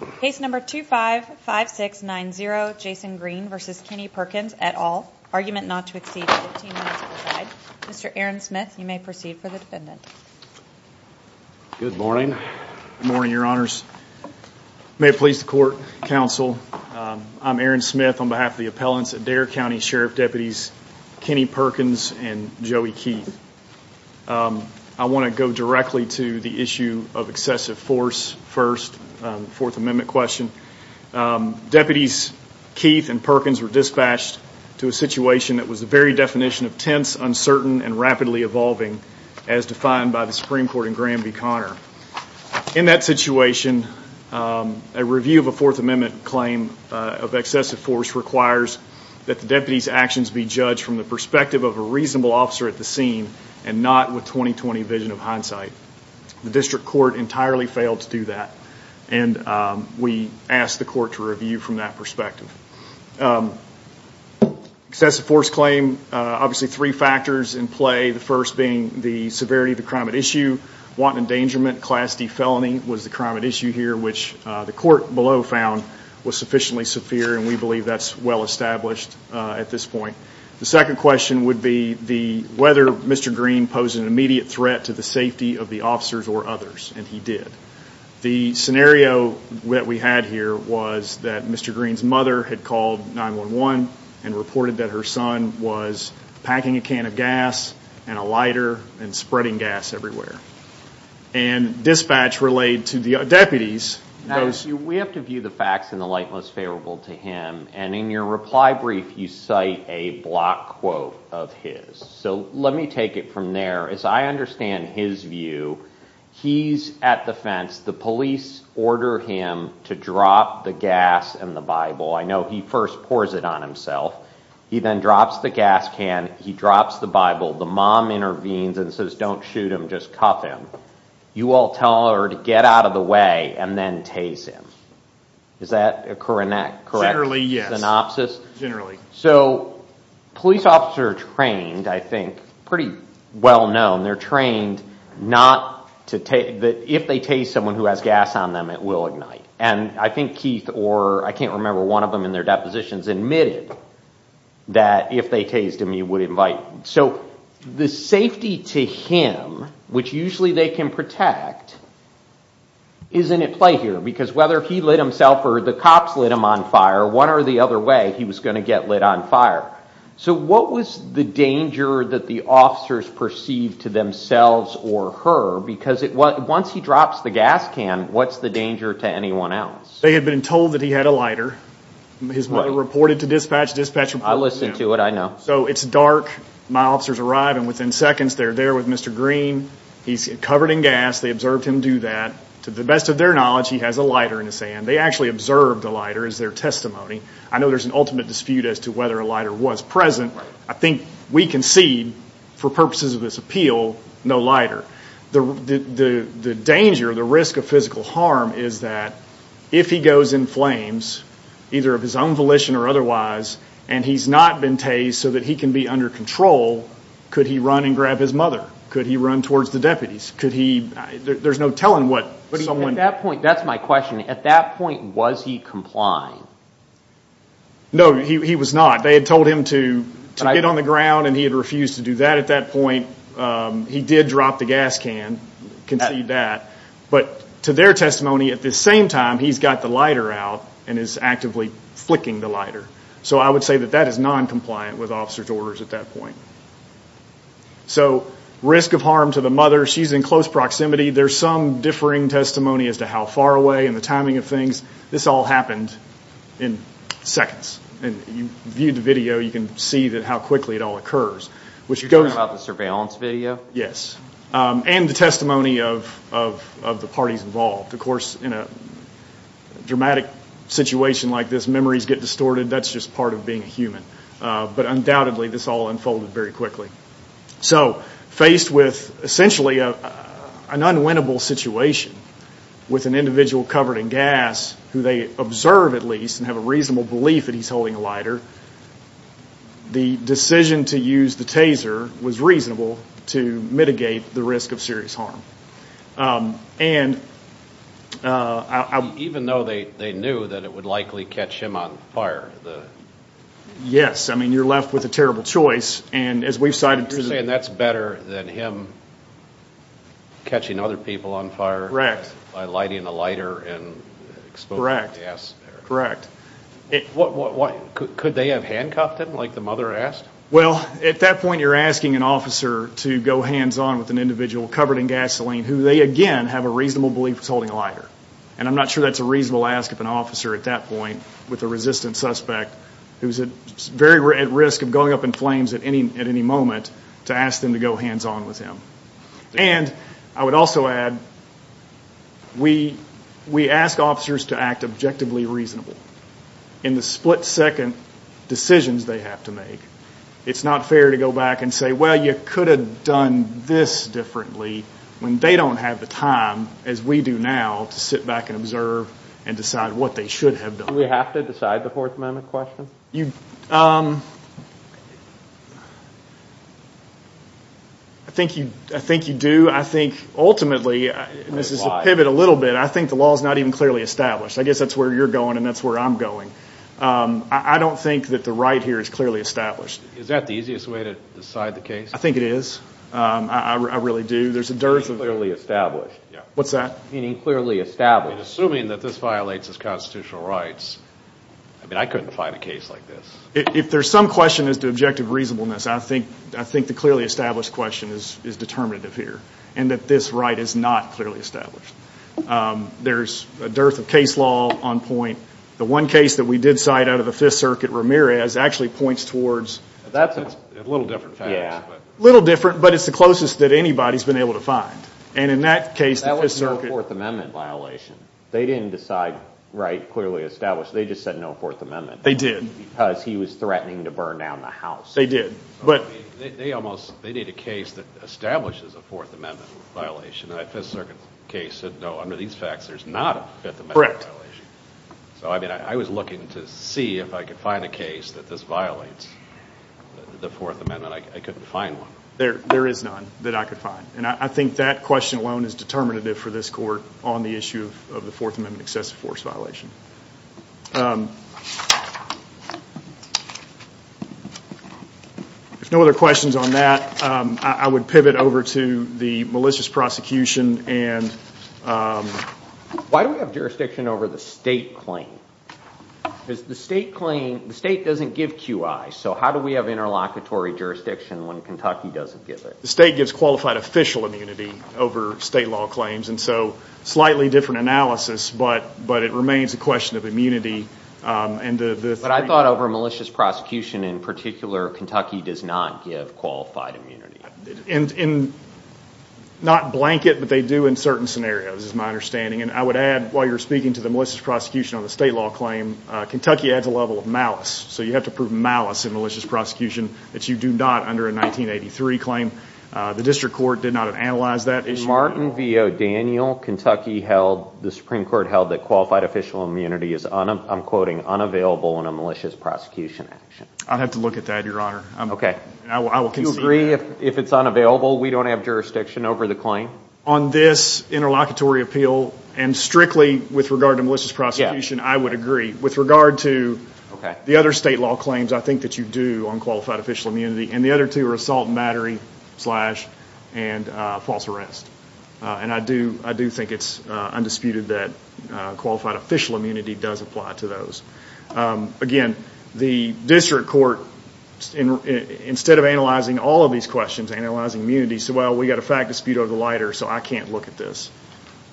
at all, argument not to exceed 15 minutes per side. Mr. Aaron Smith, you may proceed for the defendant. Good morning, your honors. May it please the court, counsel, I'm Aaron Smith on behalf of the appellants, Adair County Sheriff Deputies Kenny Perkins and Joey Keith. I want to go directly to the issue of excessive force first, Fourth Amendment question. Deputies Keith and Perkins were dispatched to a situation that was the very definition of tense, uncertain, and rapidly evolving as defined by the Supreme Court in Graham v. Connor. In that situation, a review of a Fourth Amendment claim of excessive force requires that the deputies actions be judged from the perspective of a reasonable officer at the scene and not with 20-20 vision of hindsight. The district court entirely failed to do that and we asked the court to review from that perspective. Excessive force claim, obviously three factors in play, the first being the severity of the crime at issue, wanton endangerment, class D felony was the crime at issue here, which the court below found was sufficiently severe and we believe that's well established at this point. The second question would be the whether Mr. Green posed an immediate threat to the safety of the officers or others, and he did. The scenario that we had here was that Mr. Green's mother had called 9-1-1 and reported that her son was packing a can of gas and a lighter and spreading gas everywhere. And dispatch relayed to the deputies. We have to view the facts in the light most favorable to him and in your reply brief you cite a block quote of his, so let me take it from there. As I understand his view, he's at the fence, the police order him to drop the gas and the Bible. I know he first pours it on himself, he then drops the gas can, he drops the Bible, the mom intervenes and says don't shoot him, just cuff him. You all tell her to get out of the way and then tase him. Is that occurring in that correct synopsis? Generally, yes, generally. So police officers are trained, I think, pretty well known, they're trained not to tase, if they tase someone who has gas on them it will ignite. And I think Keith or I can't remember one of them in their depositions admitted that if they tased him he would invite. So the safety to him, which usually they can protect, isn't at play here because whether he lit himself or the cops lit him on fire, one or the other way he was going to get lit on fire. So what was the danger that the officers perceived to themselves or her? Because once he drops the gas can, what's the danger to anyone else? They had been told that he had a lighter. His mother reported to dispatch. I listened to it, I know. So it's dark, my officers arrive and within seconds they're there with Mr. Green, he's covered in gas, they observed him do that. To the best of their knowledge, he has a lighter in his hand. They actually observed the lighter as their testimony. I know there's an ultimate dispute as to whether a lighter was present. I think we concede, for purposes of this appeal, no lighter. The danger, the risk of physical harm is that if he goes in flames, either of his own volition or otherwise, and he's not been tased so that he can be under control, could he run and grab his mother? Could he run towards the deputies? There's no telling what someone... At that point, that's my question, at that point was he complying? No, he was not. They had told him to get on the ground and he had refused to do that. At that point, he did drop the gas can, concede that. But to their testimony, at the same time, he's got the lighter out and is actively flicking the lighter. So I would say that that is non-compliant with officer's orders at that point. So, risk of harm to the mother, she's in close proximity, there's some differing testimony as to how far away and the timing of things. This all happened in seconds. And you viewed the video, you can see how quickly it all occurs. You're talking about the surveillance video? Yes. And the testimony of the parties involved. Of course, in a dramatic situation like this, memories get distorted, that's just part of being a human. But undoubtedly, this all unfolded very quickly. So, faced with essentially an unwinnable situation with an individual covered in gas, who they observe at least and have a reasonable belief that he's holding a lighter, the decision to use the taser was reasonable to mitigate the risk of serious harm. Even though they knew that it would likely catch him on fire? Yes. I mean, you're left with a terrible choice. You're saying that's better than him catching other people on fire? By lighting a lighter and exposing the gas? Correct. Could they have handcuffed him, like the mother asked? Well, at that point, you're asking an officer to go hands-on with an individual covered in gasoline who they, again, have a reasonable belief is holding a lighter. And I'm not sure that's a reasonable ask of an officer at that point with a resistant suspect, who's very at risk of going up in flames at any moment, to ask them to go hands-on with him. And I would also add, that we ask officers to act objectively reasonable in the split-second decisions they have to make. It's not fair to go back and say, well, you could have done this differently, when they don't have the time, as we do now, to sit back and observe and decide what they should have done. Do we have to decide the Fourth Amendment question? I think you do. Ultimately, this is a pivot a little bit. I think the law is not even clearly established. I guess that's where you're going and that's where I'm going. I don't think that the right here is clearly established. Is that the easiest way to decide the case? I think it is. I really do. It's clearly established. What's that? Meaning clearly established. Assuming that this violates his constitutional rights, I mean, I couldn't find a case like this. If there's some question as to objective reasonableness, I think the clearly established question is determinative here, and that this right is not clearly established. There's a dearth of case law on point. The one case that we did cite out of the Fifth Circuit, Ramirez, actually points towards... That's a little different facts. Little different, but it's the closest that anybody's been able to find. And in that case, the Fifth Circuit... That was no Fourth Amendment violation. They didn't decide, right, clearly established. They just said no Fourth Amendment. They did. Because he was threatening to burn down the house. They did. But... They need a case that establishes a Fourth Amendment violation. And that Fifth Circuit case said, no, under these facts, there's not a Fifth Amendment violation. So, I mean, I was looking to see if I could find a case that this violates the Fourth Amendment. I couldn't find one. There is none that I could find. And I think that question alone is determinative for this court on the issue of the Fourth Amendment excessive force violation. If no other questions on that, I would pivot over to the malicious prosecution and... Why do we have jurisdiction over the state claim? Because the state claim, the state doesn't give QI. So how do we have interlocutory jurisdiction when Kentucky doesn't give it? The state gives qualified official immunity over state law claims. And so, slightly different analysis, but it remains a question of immunity. But I thought over malicious prosecution in particular, Kentucky does not give qualified immunity. Not blanket, but they do in certain scenarios, is my understanding. And I would add, while you're speaking to the malicious prosecution on the state law claim, Kentucky adds a level of malice. So you have to prove malice in malicious prosecution that you do not under a 1983 claim. The district court did not analyze that issue. Martin v. O'Daniel, Kentucky held, the Supreme Court held that qualified official immunity is, I'm quoting, unavailable in a malicious prosecution action. I'd have to look at that, Your Honor. Okay. I will concede that. Do you agree if it's unavailable, we don't have jurisdiction over the claim? On this interlocutory appeal, and strictly with regard to malicious prosecution, I would agree. With regard to the other state law claims, I think that you do on qualified official immunity, and the other two are assault and battery, slash, and false arrest. And I do think it's undisputed that qualified official immunity does apply to those. Again, the district court, instead of analyzing all of these questions, analyzing immunity, said, well, we got a fact dispute over the lighter, so I can't look at this.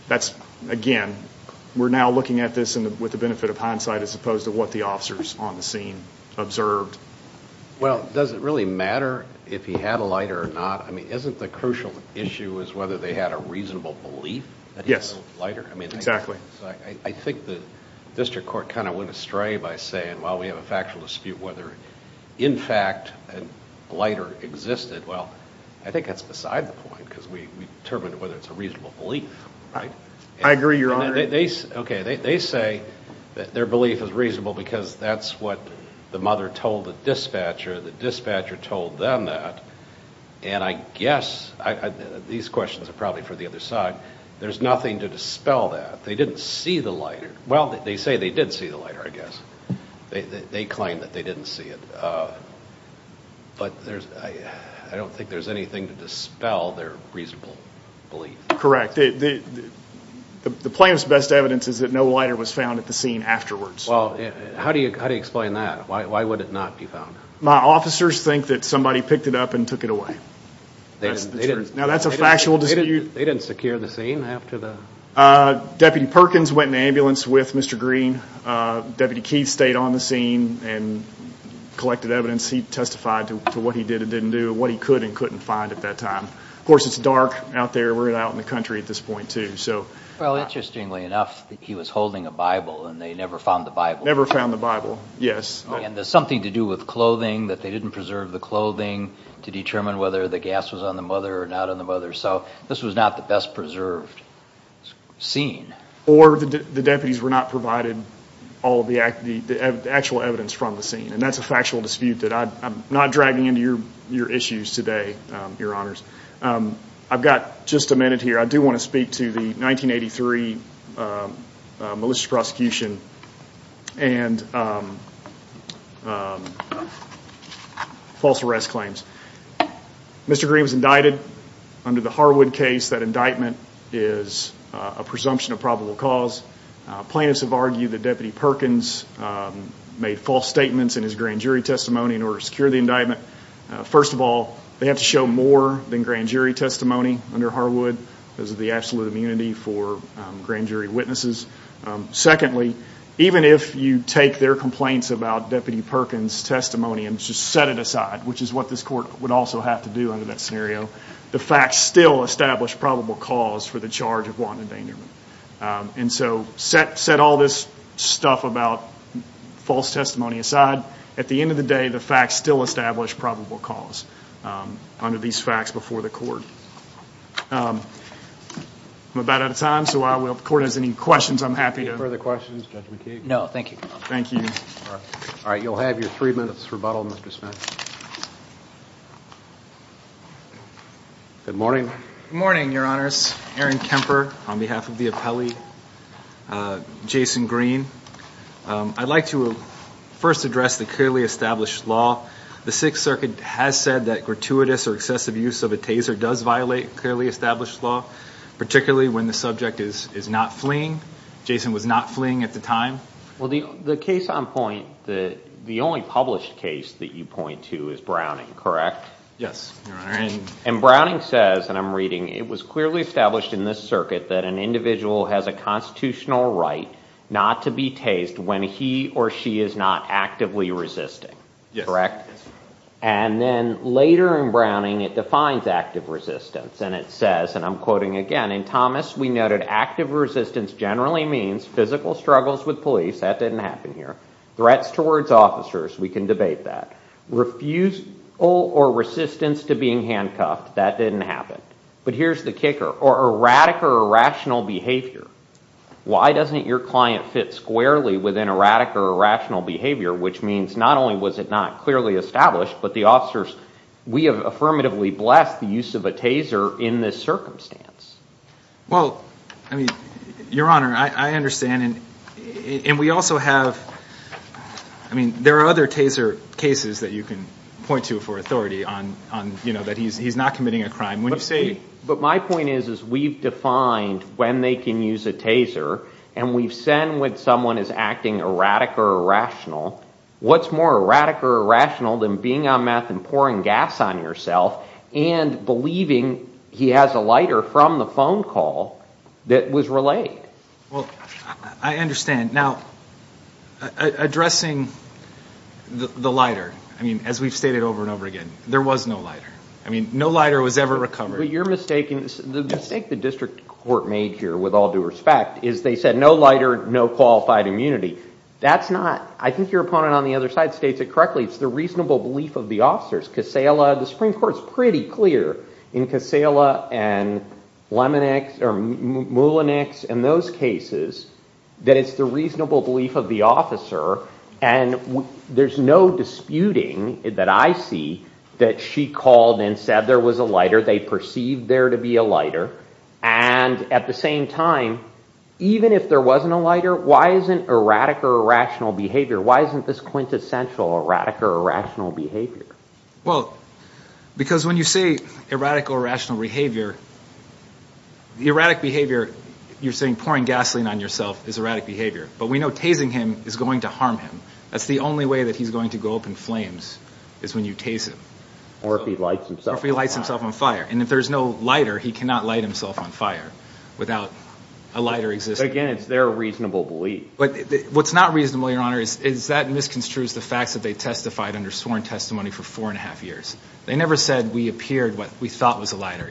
That's, again, we're now looking at this with the benefit of hindsight, as opposed to what the officers on the scene observed. Well, does it really matter if he had a lighter or not? I mean, isn't the crucial issue is whether they had a reasonable belief that he had a lighter? Yes, exactly. I think the district court kind of went astray by saying, well, we have a factual dispute, whether, in fact, a lighter existed. Well, I think that's beside the point, because we determine whether it's a reasonable belief, right? I agree, Your Honor. Okay. They say that their belief is reasonable because that's what the mother told the dispatcher, the dispatcher told them that. And I guess these questions are probably for the other side. There's nothing to dispel that. They didn't see the lighter. Well, they say they did see the lighter, I guess. They claim that they didn't see it. But I don't think there's anything to dispel their reasonable belief. Correct. The plaintiff's best evidence is that no lighter was found at the scene afterwards. Well, how do you explain that? Why would it not be found? My officers think that somebody picked it up and took it away. Now, that's a factual dispute. They didn't secure the scene after the... Deputy Perkins went in the ambulance with Mr. Green. Deputy Keith stayed on the scene and collected evidence. He testified to what he did and didn't do, what he could and couldn't find at that time. Of course, it's dark out there. We're out in the country at this point too. Well, interestingly enough, he was holding a Bible and they never found the Bible. Never found the Bible. Yes. And there's something to do with clothing, that they didn't preserve the clothing to determine whether the gas was on the mother or not on the mother. So, this was not the best preserved scene. Or the deputies were not provided all the actual evidence from the scene. And that's a factual dispute that I'm not dragging into your issues today, Your Honors. I've got just a minute here. I do want to speak to the 1983 malicious prosecution and false arrest claims. Mr. Green was indicted under the Harwood case. That indictment is a presumption of probable cause. Plaintiffs have argued that Deputy Perkins made false statements in his grand jury testimony in order to secure the indictment. First of all, they have to show more than grand jury testimony under Harwood. Those are the absolute immunity for grand jury witnesses. Secondly, even if you take their complaints about Deputy Perkins' testimony and just set it aside, which is what this court would also have to do under that scenario, the facts still establish probable cause for the charge of wanton endangerment. And so, set all this stuff about false testimony aside, at the end of the day, the facts still establish probable cause under these facts before the court. I'm about out of time, so if the court has any questions, I'm happy to... Any further questions, Judge McKee? No, thank you. Thank you. All right, you'll have your three minutes rebuttal, Mr. Smith. Good morning. Good morning, Your Honors. Aaron Kemper on behalf of the appellee, Jason Green. I'd like to first address the clearly established law. The Sixth Circuit has said that gratuitous or excessive use of a taser does violate clearly established law, particularly when the subject is not fleeing. Jason was not fleeing at the time. Well, the case on point, the only published case that you point to is Browning, correct? Yes, Your Honor. And Browning says, and I'm reading, it was clearly established in this circuit that an individual has a constitutional right not to be tased when he or she is not actively resisting, correct? And then later in Browning, it defines active resistance and it says, and I'm quoting again, in Thomas, we noted active resistance generally means physical struggles with police, that didn't happen here, threats towards officers, we can debate that, refusal or resistance to being handcuffed, that didn't happen. But here's the kicker, or erratic or irrational behavior. Why doesn't your client fit squarely within erratic or irrational behavior, which means not only was it not clearly established, but the officers, we have affirmatively blessed the use of a taser in this circumstance. Well, I mean, Your Honor, I understand, and we also have, I mean, there are other taser cases that you can point to for authority on, that he's not committing a crime. But my point is, is we've defined when they can use a taser and we've said when someone is acting erratic or irrational, what's more erratic or irrational than being on meth and pouring gas on yourself and believing he has a lighter from the phone call that was relayed? Well, I understand. Now, addressing the lighter, I mean, as we've stated over and over again, there was no lighter. I mean, no lighter was ever recovered. But you're mistaken. The mistake the district court made here, with all due respect, is they said no lighter, no qualified immunity. That's not, I think your opponent on the other side states it correctly, it's the reasonable belief of the officers. Casella, the Supreme Court's pretty clear in Casella and Lemonex or Moulinix and those cases, that it's the reasonable belief of the officer and there's no disputing that I see that she called and said there was a lighter, they perceived there to be a lighter. And at the same time, even if there wasn't a lighter, why isn't erratic or irrational behavior, why isn't this quintessential erratic or irrational behavior? Well, because when you say erratic or irrational behavior, the erratic behavior, you're saying pouring gasoline on yourself is erratic behavior. But we know tasing him is going to harm him. That's the only way that he's going to go up in flames is when you tase him. Or if he lights himself. Or if he lights himself on fire. And if there's no lighter, he cannot light himself on fire without a lighter existing. Again, it's their reasonable belief. But what's not reasonable, Your Honor, is that misconstrues the facts that they testified under sworn testimony for four and a half years. They never said we appeared what we thought was a lighter.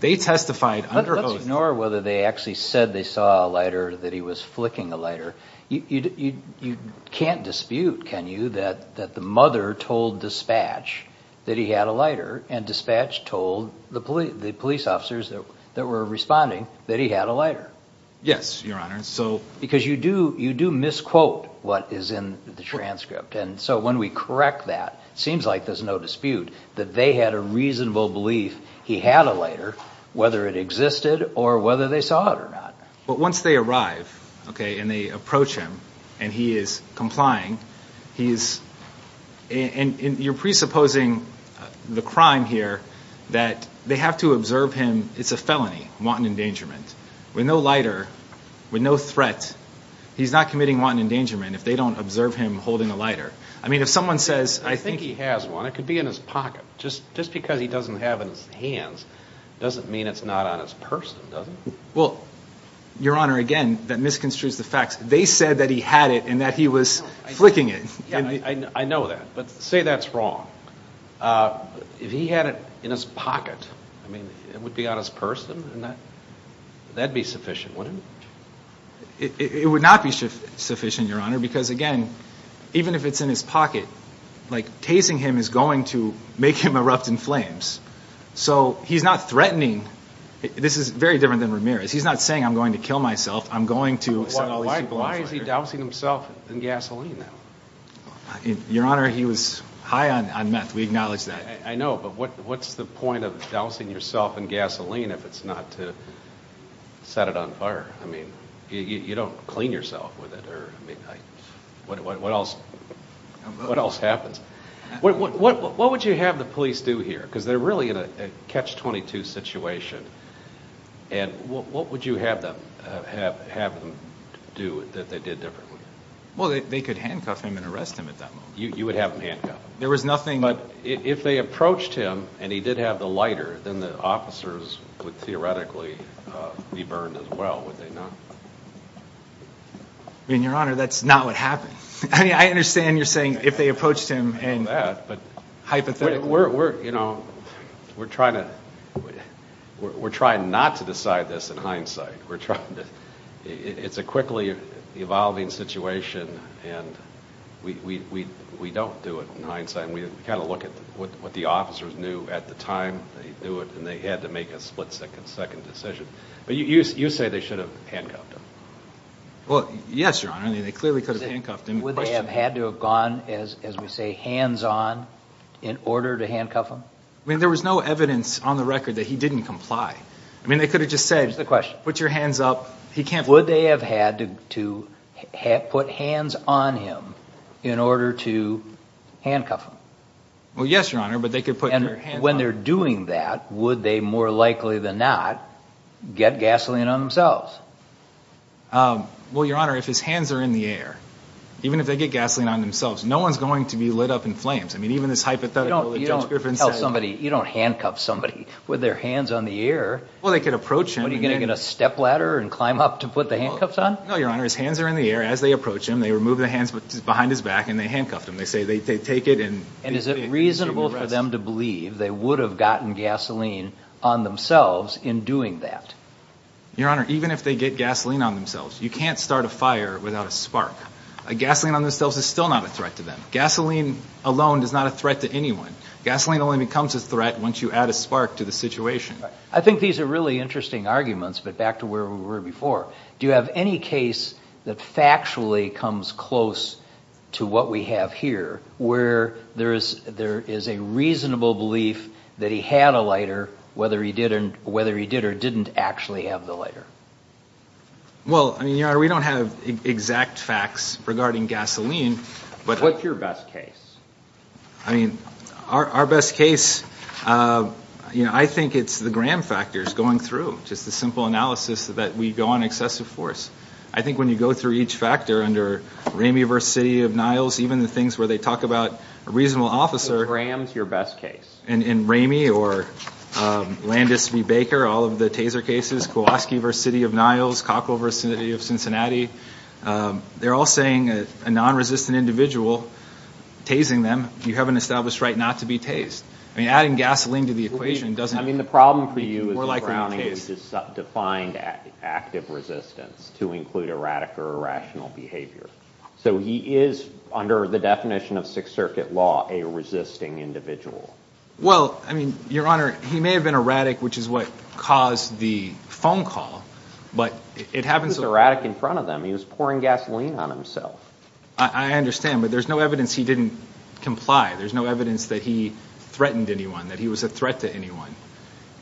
They testified under oath. But let's ignore whether they actually said they saw a lighter or that he was flicking a lighter. You can't dispute, can you, that the mother told dispatch that he had a lighter and dispatch told the police officers that were responding that he had a lighter. Yes, Your Honor. Because you do misquote what is in the transcript. And so when we correct that, it seems like there's no dispute that they had a reasonable belief he had a lighter, whether it existed or whether they saw it or not. But once they arrive, okay, and they approach him, and he is complying, he is... And you're presupposing the crime here that they have to observe him. It's a felony, wanton endangerment. With no lighter, with no threat, he's not committing wanton endangerment if they don't observe him holding a lighter. I mean, if someone says, I think... It could be in his pocket. Just because he doesn't have it in his hands doesn't mean it's not on his person, does it? Well, Your Honor, again, that misconstrues the facts. They said that he had it and that he was flicking it. Yeah, I know that. But say that's wrong. If he had it in his pocket, I mean, it would be on his person and that'd be sufficient, wouldn't it? It would not be sufficient, Your Honor, because again, even if it's in his pocket, tasing him is going to make him erupt in flames. So he's not threatening. This is very different than Ramirez. He's not saying, I'm going to kill myself. I'm going to... Why is he dousing himself in gasoline now? Your Honor, he was high on meth. We acknowledge that. I know, but what's the point of dousing yourself in gasoline if it's not to set it on fire? I mean, you don't clean yourself with it, or what else happens? What would you have the police do here? Because they're really in a Catch-22 situation, and what would you have them do that they did differently? Well, they could handcuff him and arrest him at that moment. You would have them handcuff him? There was nothing... But if they approached him and he did have the lighter, then the officers would theoretically be burned as well, would they not? I mean, Your Honor, that's not what happened. I mean, I understand you're saying, if they approached him and... I know that, but... Hypothetically... We're trying not to decide this in hindsight. We're trying to... It's a quickly evolving situation, and we don't do it in hindsight. We kind of look at what the officers knew at the time they knew it, and they had to make a split-second decision. But you say they should have handcuffed him. Well, yes, Your Honor. I mean, they clearly could have handcuffed him. Would they have had to have gone, as we say, hands-on in order to handcuff him? I mean, there was no evidence on the record that he didn't comply. I mean, they could have just put your hands up. He can't... Would they have had to put hands on him in order to handcuff him? Well, yes, Your Honor, but they could put their hands... And when they're doing that, would they more likely than not get gasoline on themselves? Well, Your Honor, if his hands are in the air, even if they get gasoline on themselves, no one's going to be lit up in flames. I mean, even this hypothetical that Judge Griffin said... You don't handcuff somebody with their hands on the air. Well, they could approach him. What, are you going to get a stepladder and climb up to put the handcuffs on? No, Your Honor. His hands are in the air. As they approach him, they remove the hands behind his back, and they handcuff him. They say they take it and... And is it reasonable for them to believe they would have gotten gasoline on themselves in doing that? Your Honor, even if they get gasoline on themselves, you can't start a fire without a spark. A gasoline on themselves is still not a threat to them. Gasoline alone is not a threat to anyone. Gasoline only becomes a threat once you add a spark to the situation. I think these are really interesting arguments, but back to where we were before. Do you have any case that factually comes close to what we have here, where there is a reasonable belief that he had a lighter, whether he did or didn't actually have the lighter? Well, Your Honor, we don't have exact facts regarding gasoline, but... What's your best case? I mean, our best case, I think it's the Graham factors going through, just the simple analysis that we go on excessive force. I think when you go through each factor under Ramey v. City of Niles, even the things where they talk about a reasonable officer... Graham's your best case. And Ramey or Landis v. Baker, all of the Taser cases, Kowalski v. City of Niles, Cockle v. City of Cincinnati, they're all saying a non-resistant individual, tasing them, you have an established right not to be tased. I mean, adding gasoline to the equation doesn't... I mean, the problem for you is Browning has defined active resistance to include erratic or irrational behavior. So he is, under the definition of Sixth Circuit law, a resisting individual. Well, I mean, Your Honor, he may have been erratic, which is what caused the phone call, but it happens... He was erratic in front of them. He was pouring gasoline on himself. I understand, but there's no evidence he didn't comply. There's no evidence that he threatened anyone, that he was a threat to anyone.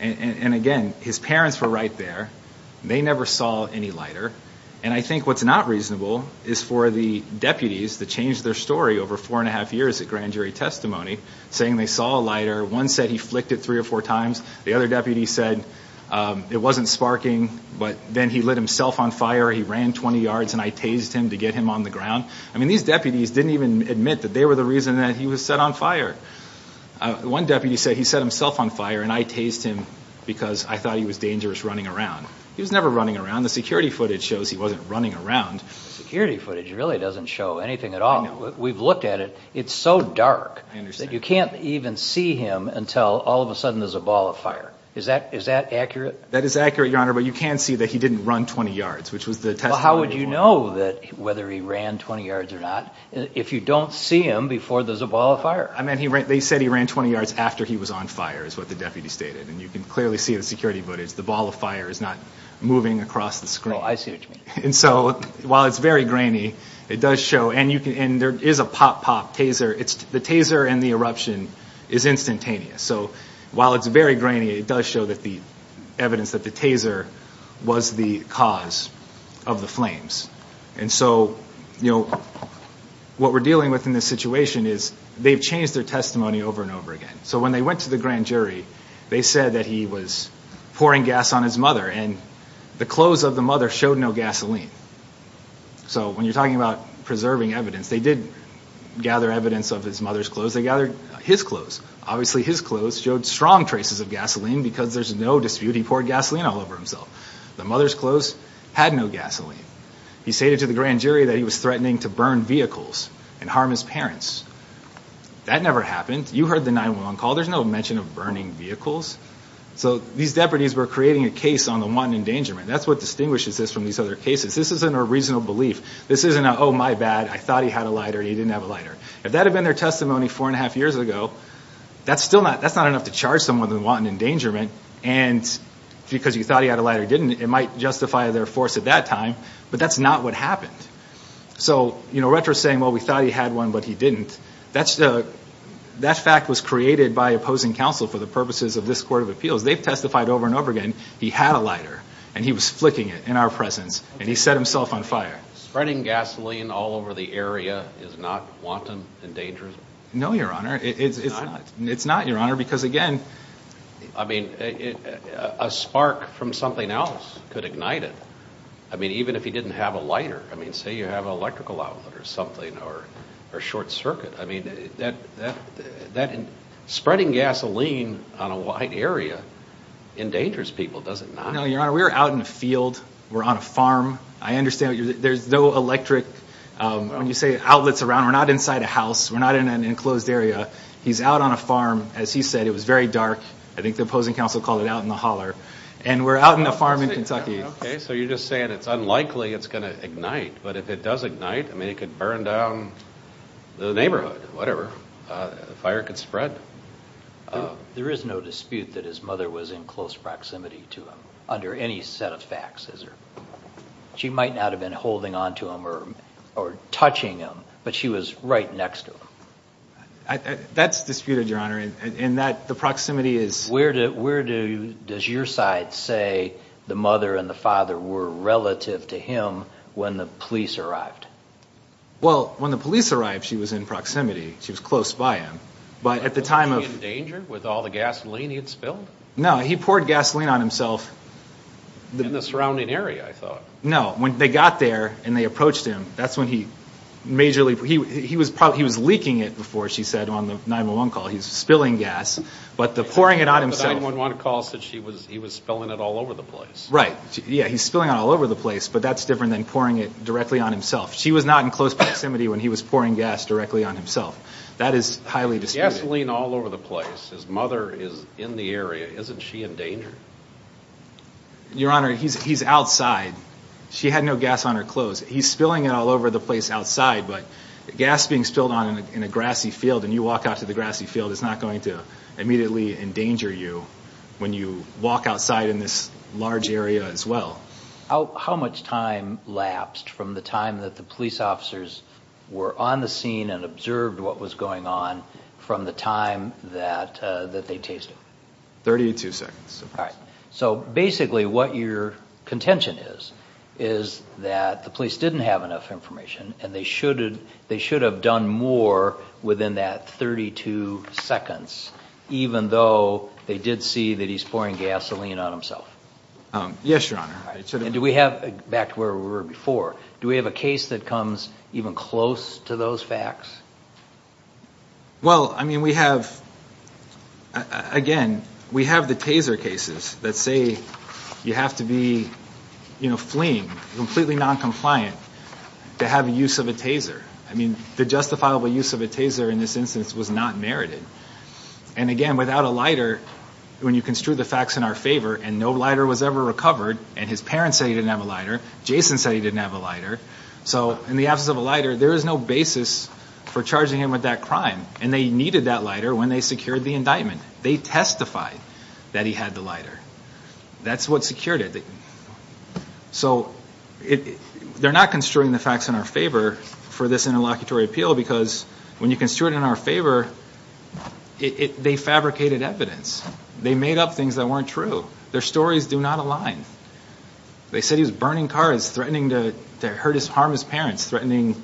And again, his parents were right there. They never saw any lighter. And I think what's not reasonable is for the deputies that changed their story over four and a half years at grand jury testimony, saying they saw a lighter. One said he flicked it three or four times. The other deputy said it wasn't sparking, but then he lit himself on fire. He ran 20 yards and I tased him to get him on the ground. I mean, these deputies didn't even admit that they were the reason that he was set on fire. One deputy said he set himself on fire and I tased him because I thought he was dangerous running around. He was never running around. The security footage shows he wasn't running around. Security footage really doesn't show anything at all. We've looked at it. It's so dark that you can't even see him until all of a sudden there's a ball of fire. Is that accurate? That is accurate, Your Honor, but you can see that he didn't run 20 yards, which was the testimony before. How would you know whether he ran 20 yards or not if you don't see him before there's a ball of fire? I mean, they said he ran 20 yards after he was on fire is what the deputy stated. And you can clearly see the security footage. The ball of fire is not moving across the screen. Oh, I see what you mean. And so while it's very grainy, it does show. And there is a pop pop taser. The taser and the eruption is instantaneous. So while it's very grainy, it does show that the evidence that the taser was the cause of the flames. And so, you know, what we're dealing with in this situation is they've changed their testimony over and over again. So when they went to the grand jury, they said that he was pouring gas on his mother and the clothes of the mother showed no gasoline. So when you're talking about preserving evidence, they did gather evidence of his mother's clothes. They gathered his clothes. Obviously, his clothes showed strong traces of gasoline because there's no dispute he poured gasoline all over himself. The mother's clothes had no gasoline. He stated to the grand jury that he was threatening to burn vehicles and harm his parents. That never happened. You heard the 911 call. There's no mention of burning vehicles. So these deputies were creating a case on the one endangerment. That's what distinguishes this from these other cases. This isn't a reasonable belief. This isn't a, oh, my bad, I thought he had a lighter. He didn't have a lighter. If that had been their testimony four and a half years ago, that's still not, that's not enough to charge someone with wanting endangerment. And because you thought he had a lighter, didn't, it might justify their force at that time, but that's not what happened. So, you know, retro saying, well, we thought he had one, but he didn't. That's the, that fact was created by opposing counsel for the purposes of this court of appeals. They've testified over and over again. He had a lighter and he was flicking it in our presence and he set himself on fire. Spreading gasoline all over the area is not wanton and dangerous. No, your honor. It's not your honor. Because again, I mean, a spark from something else could ignite it. I mean, even if he didn't have a lighter, I mean, say you have an electrical outlet or something or a short circuit, I mean, that, that, that spreading gasoline on a wide area in dangerous people, does it not? No, your honor, we were out in the field. We're on a farm. I understand there's no electric, um, when you say outlets around, we're not inside a house. We're not in an enclosed area. He's out on a farm. As he said, it was very dark. I think the opposing counsel called it out in the holler and we're out in the farm in Kentucky. Okay. So you're just saying it's unlikely it's going to ignite, but if it does ignite, I mean, it could burn down the neighborhood, whatever, uh, fire could spread. Uh, there is no dispute that his mother was in close proximity to him under any set of facts. She might not have been holding onto him or, or touching him, but she was right next to him. That's disputed your honor. And that the proximity is where to, where do, does your side say the mother and the father were relative to him when the police arrived? Well, when the police arrived, she was in proximity. She was close by him, but at the time of danger with all the gasoline, he had spilled. No, he poured gasoline on himself in the surrounding area. I thought, no, when they got there and they approached him, that's when he majorly, he, he was probably, he was leaking it before. She said on the 911 call, he's spilling gas, but the pouring it on himself, one calls that she was, he was spilling it all over the place, right? Yeah. He's spilling it all over the place, but that's different than pouring it directly on himself. She was not in proximity when he was pouring gas directly on himself. That is highly disputed. Gasoline all over the place. His mother is in the area. Isn't she in danger? Your honor, he's, he's outside. She had no gas on her clothes. He's spilling it all over the place outside, but the gas being spilled on in a, in a grassy field and you walk out to the grassy field, it's not going to immediately endanger you when you walk outside in this large area as well. How, how much time from the time that the police officers were on the scene and observed what was going on from the time that, uh, that they tasted? 32 seconds. All right. So basically what your contention is, is that the police didn't have enough information and they should have, they should have done more within that 32 seconds, even though they did see that he's pouring gasoline on himself. Um, yes, your honor. And do we have, back to where we were before, do we have a case that comes even close to those facts? Well, I mean, we have, again, we have the taser cases that say you have to be, you know, fleeing completely noncompliant to have a use of a taser. I mean, the justifiable use of a taser in this instance was not merited. And again, without a lighter, when you construe the facts in our favor and no lighter was ever recovered and his parents said he didn't have a lighter, Jason said he didn't have a lighter. So in the absence of a lighter, there is no basis for charging him with that crime. And they needed that lighter when they secured the indictment. They testified that he had the lighter. That's what secured it. So it, they're not construing the facts in our favor for this interlocutory appeal because when you construe it in our favor, it, they fabricated evidence. They made up things that weren't true. Their stories do not align. They said he was burning cars, threatening to hurt his, harm his parents, threatening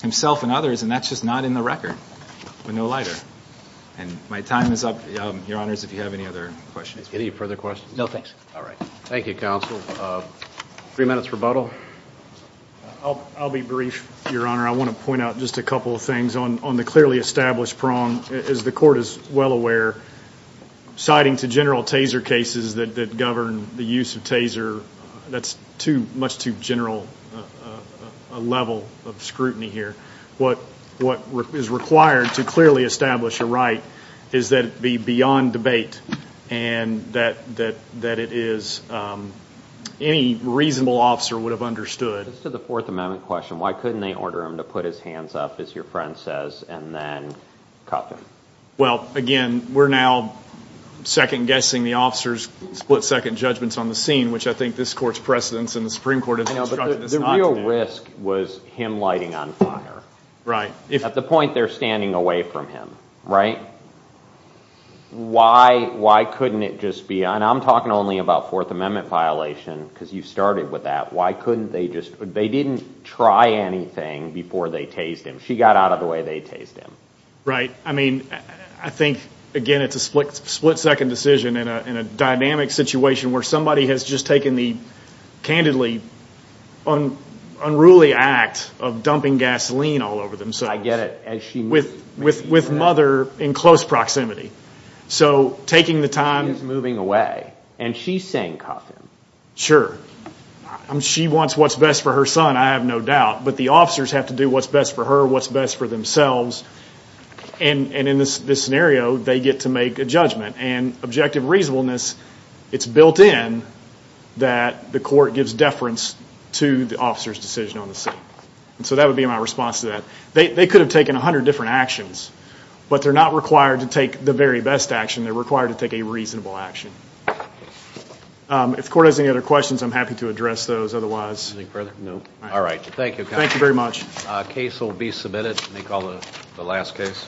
himself and others. And that's just not in the record with no lighter. And my time is up, um, your honors, if you have any other questions. Any further questions? No, thanks. All right. Thank you, counsel. Uh, three minutes rebuttal. I'll, I'll be brief, your honor. I want to point out just a couple of things on, on the clearly established prong is the court is well aware citing to general taser cases that, that govern the use of taser. That's too much, too general, uh, uh, a level of scrutiny here. What, what is required to clearly establish a right is that it be beyond debate and that, that, that it is, um, any reasonable officer would have understood. Just to the fourth amendment question, why couldn't they order him to put his hands up as your friend says, and then cuff him? Well, again, we're now second guessing the officers split second judgments on the scene, which I think this court's precedence in the Supreme court. The real risk was him lighting on fire, right? At the point they're standing away from him, right? Why, why couldn't it just be, and I'm talking only about fourth amendment violation because you started with that. Why couldn't they just, they didn't try anything before they tased him. She got out of the way, they tased him. Right. I mean, I think again, it's a split, split second decision in a, in a dynamic situation where somebody has just taken the candidly unruly act of dumping gasoline all over themselves. I get it. As she, with, with, with mother in close proximity. So taking the time, he's moving away and she's saying cuff him. Sure. She wants what's best for her son. I have no doubt, but the officers have to do what's best for her, what's best for themselves. And, and in this scenario, they get to make a judgment and objective reasonableness, it's built in that the court gives deference to the officer's decision on the scene. And so that would be my response to that. They could have taken a hundred different actions, but they're not required to take the very best action. They're required to take a reasonable action. If the court has any other questions, I'm happy to address those otherwise. Anything further? No. All right. Thank you. Thank you very much. Case will be submitted. They call it the last case.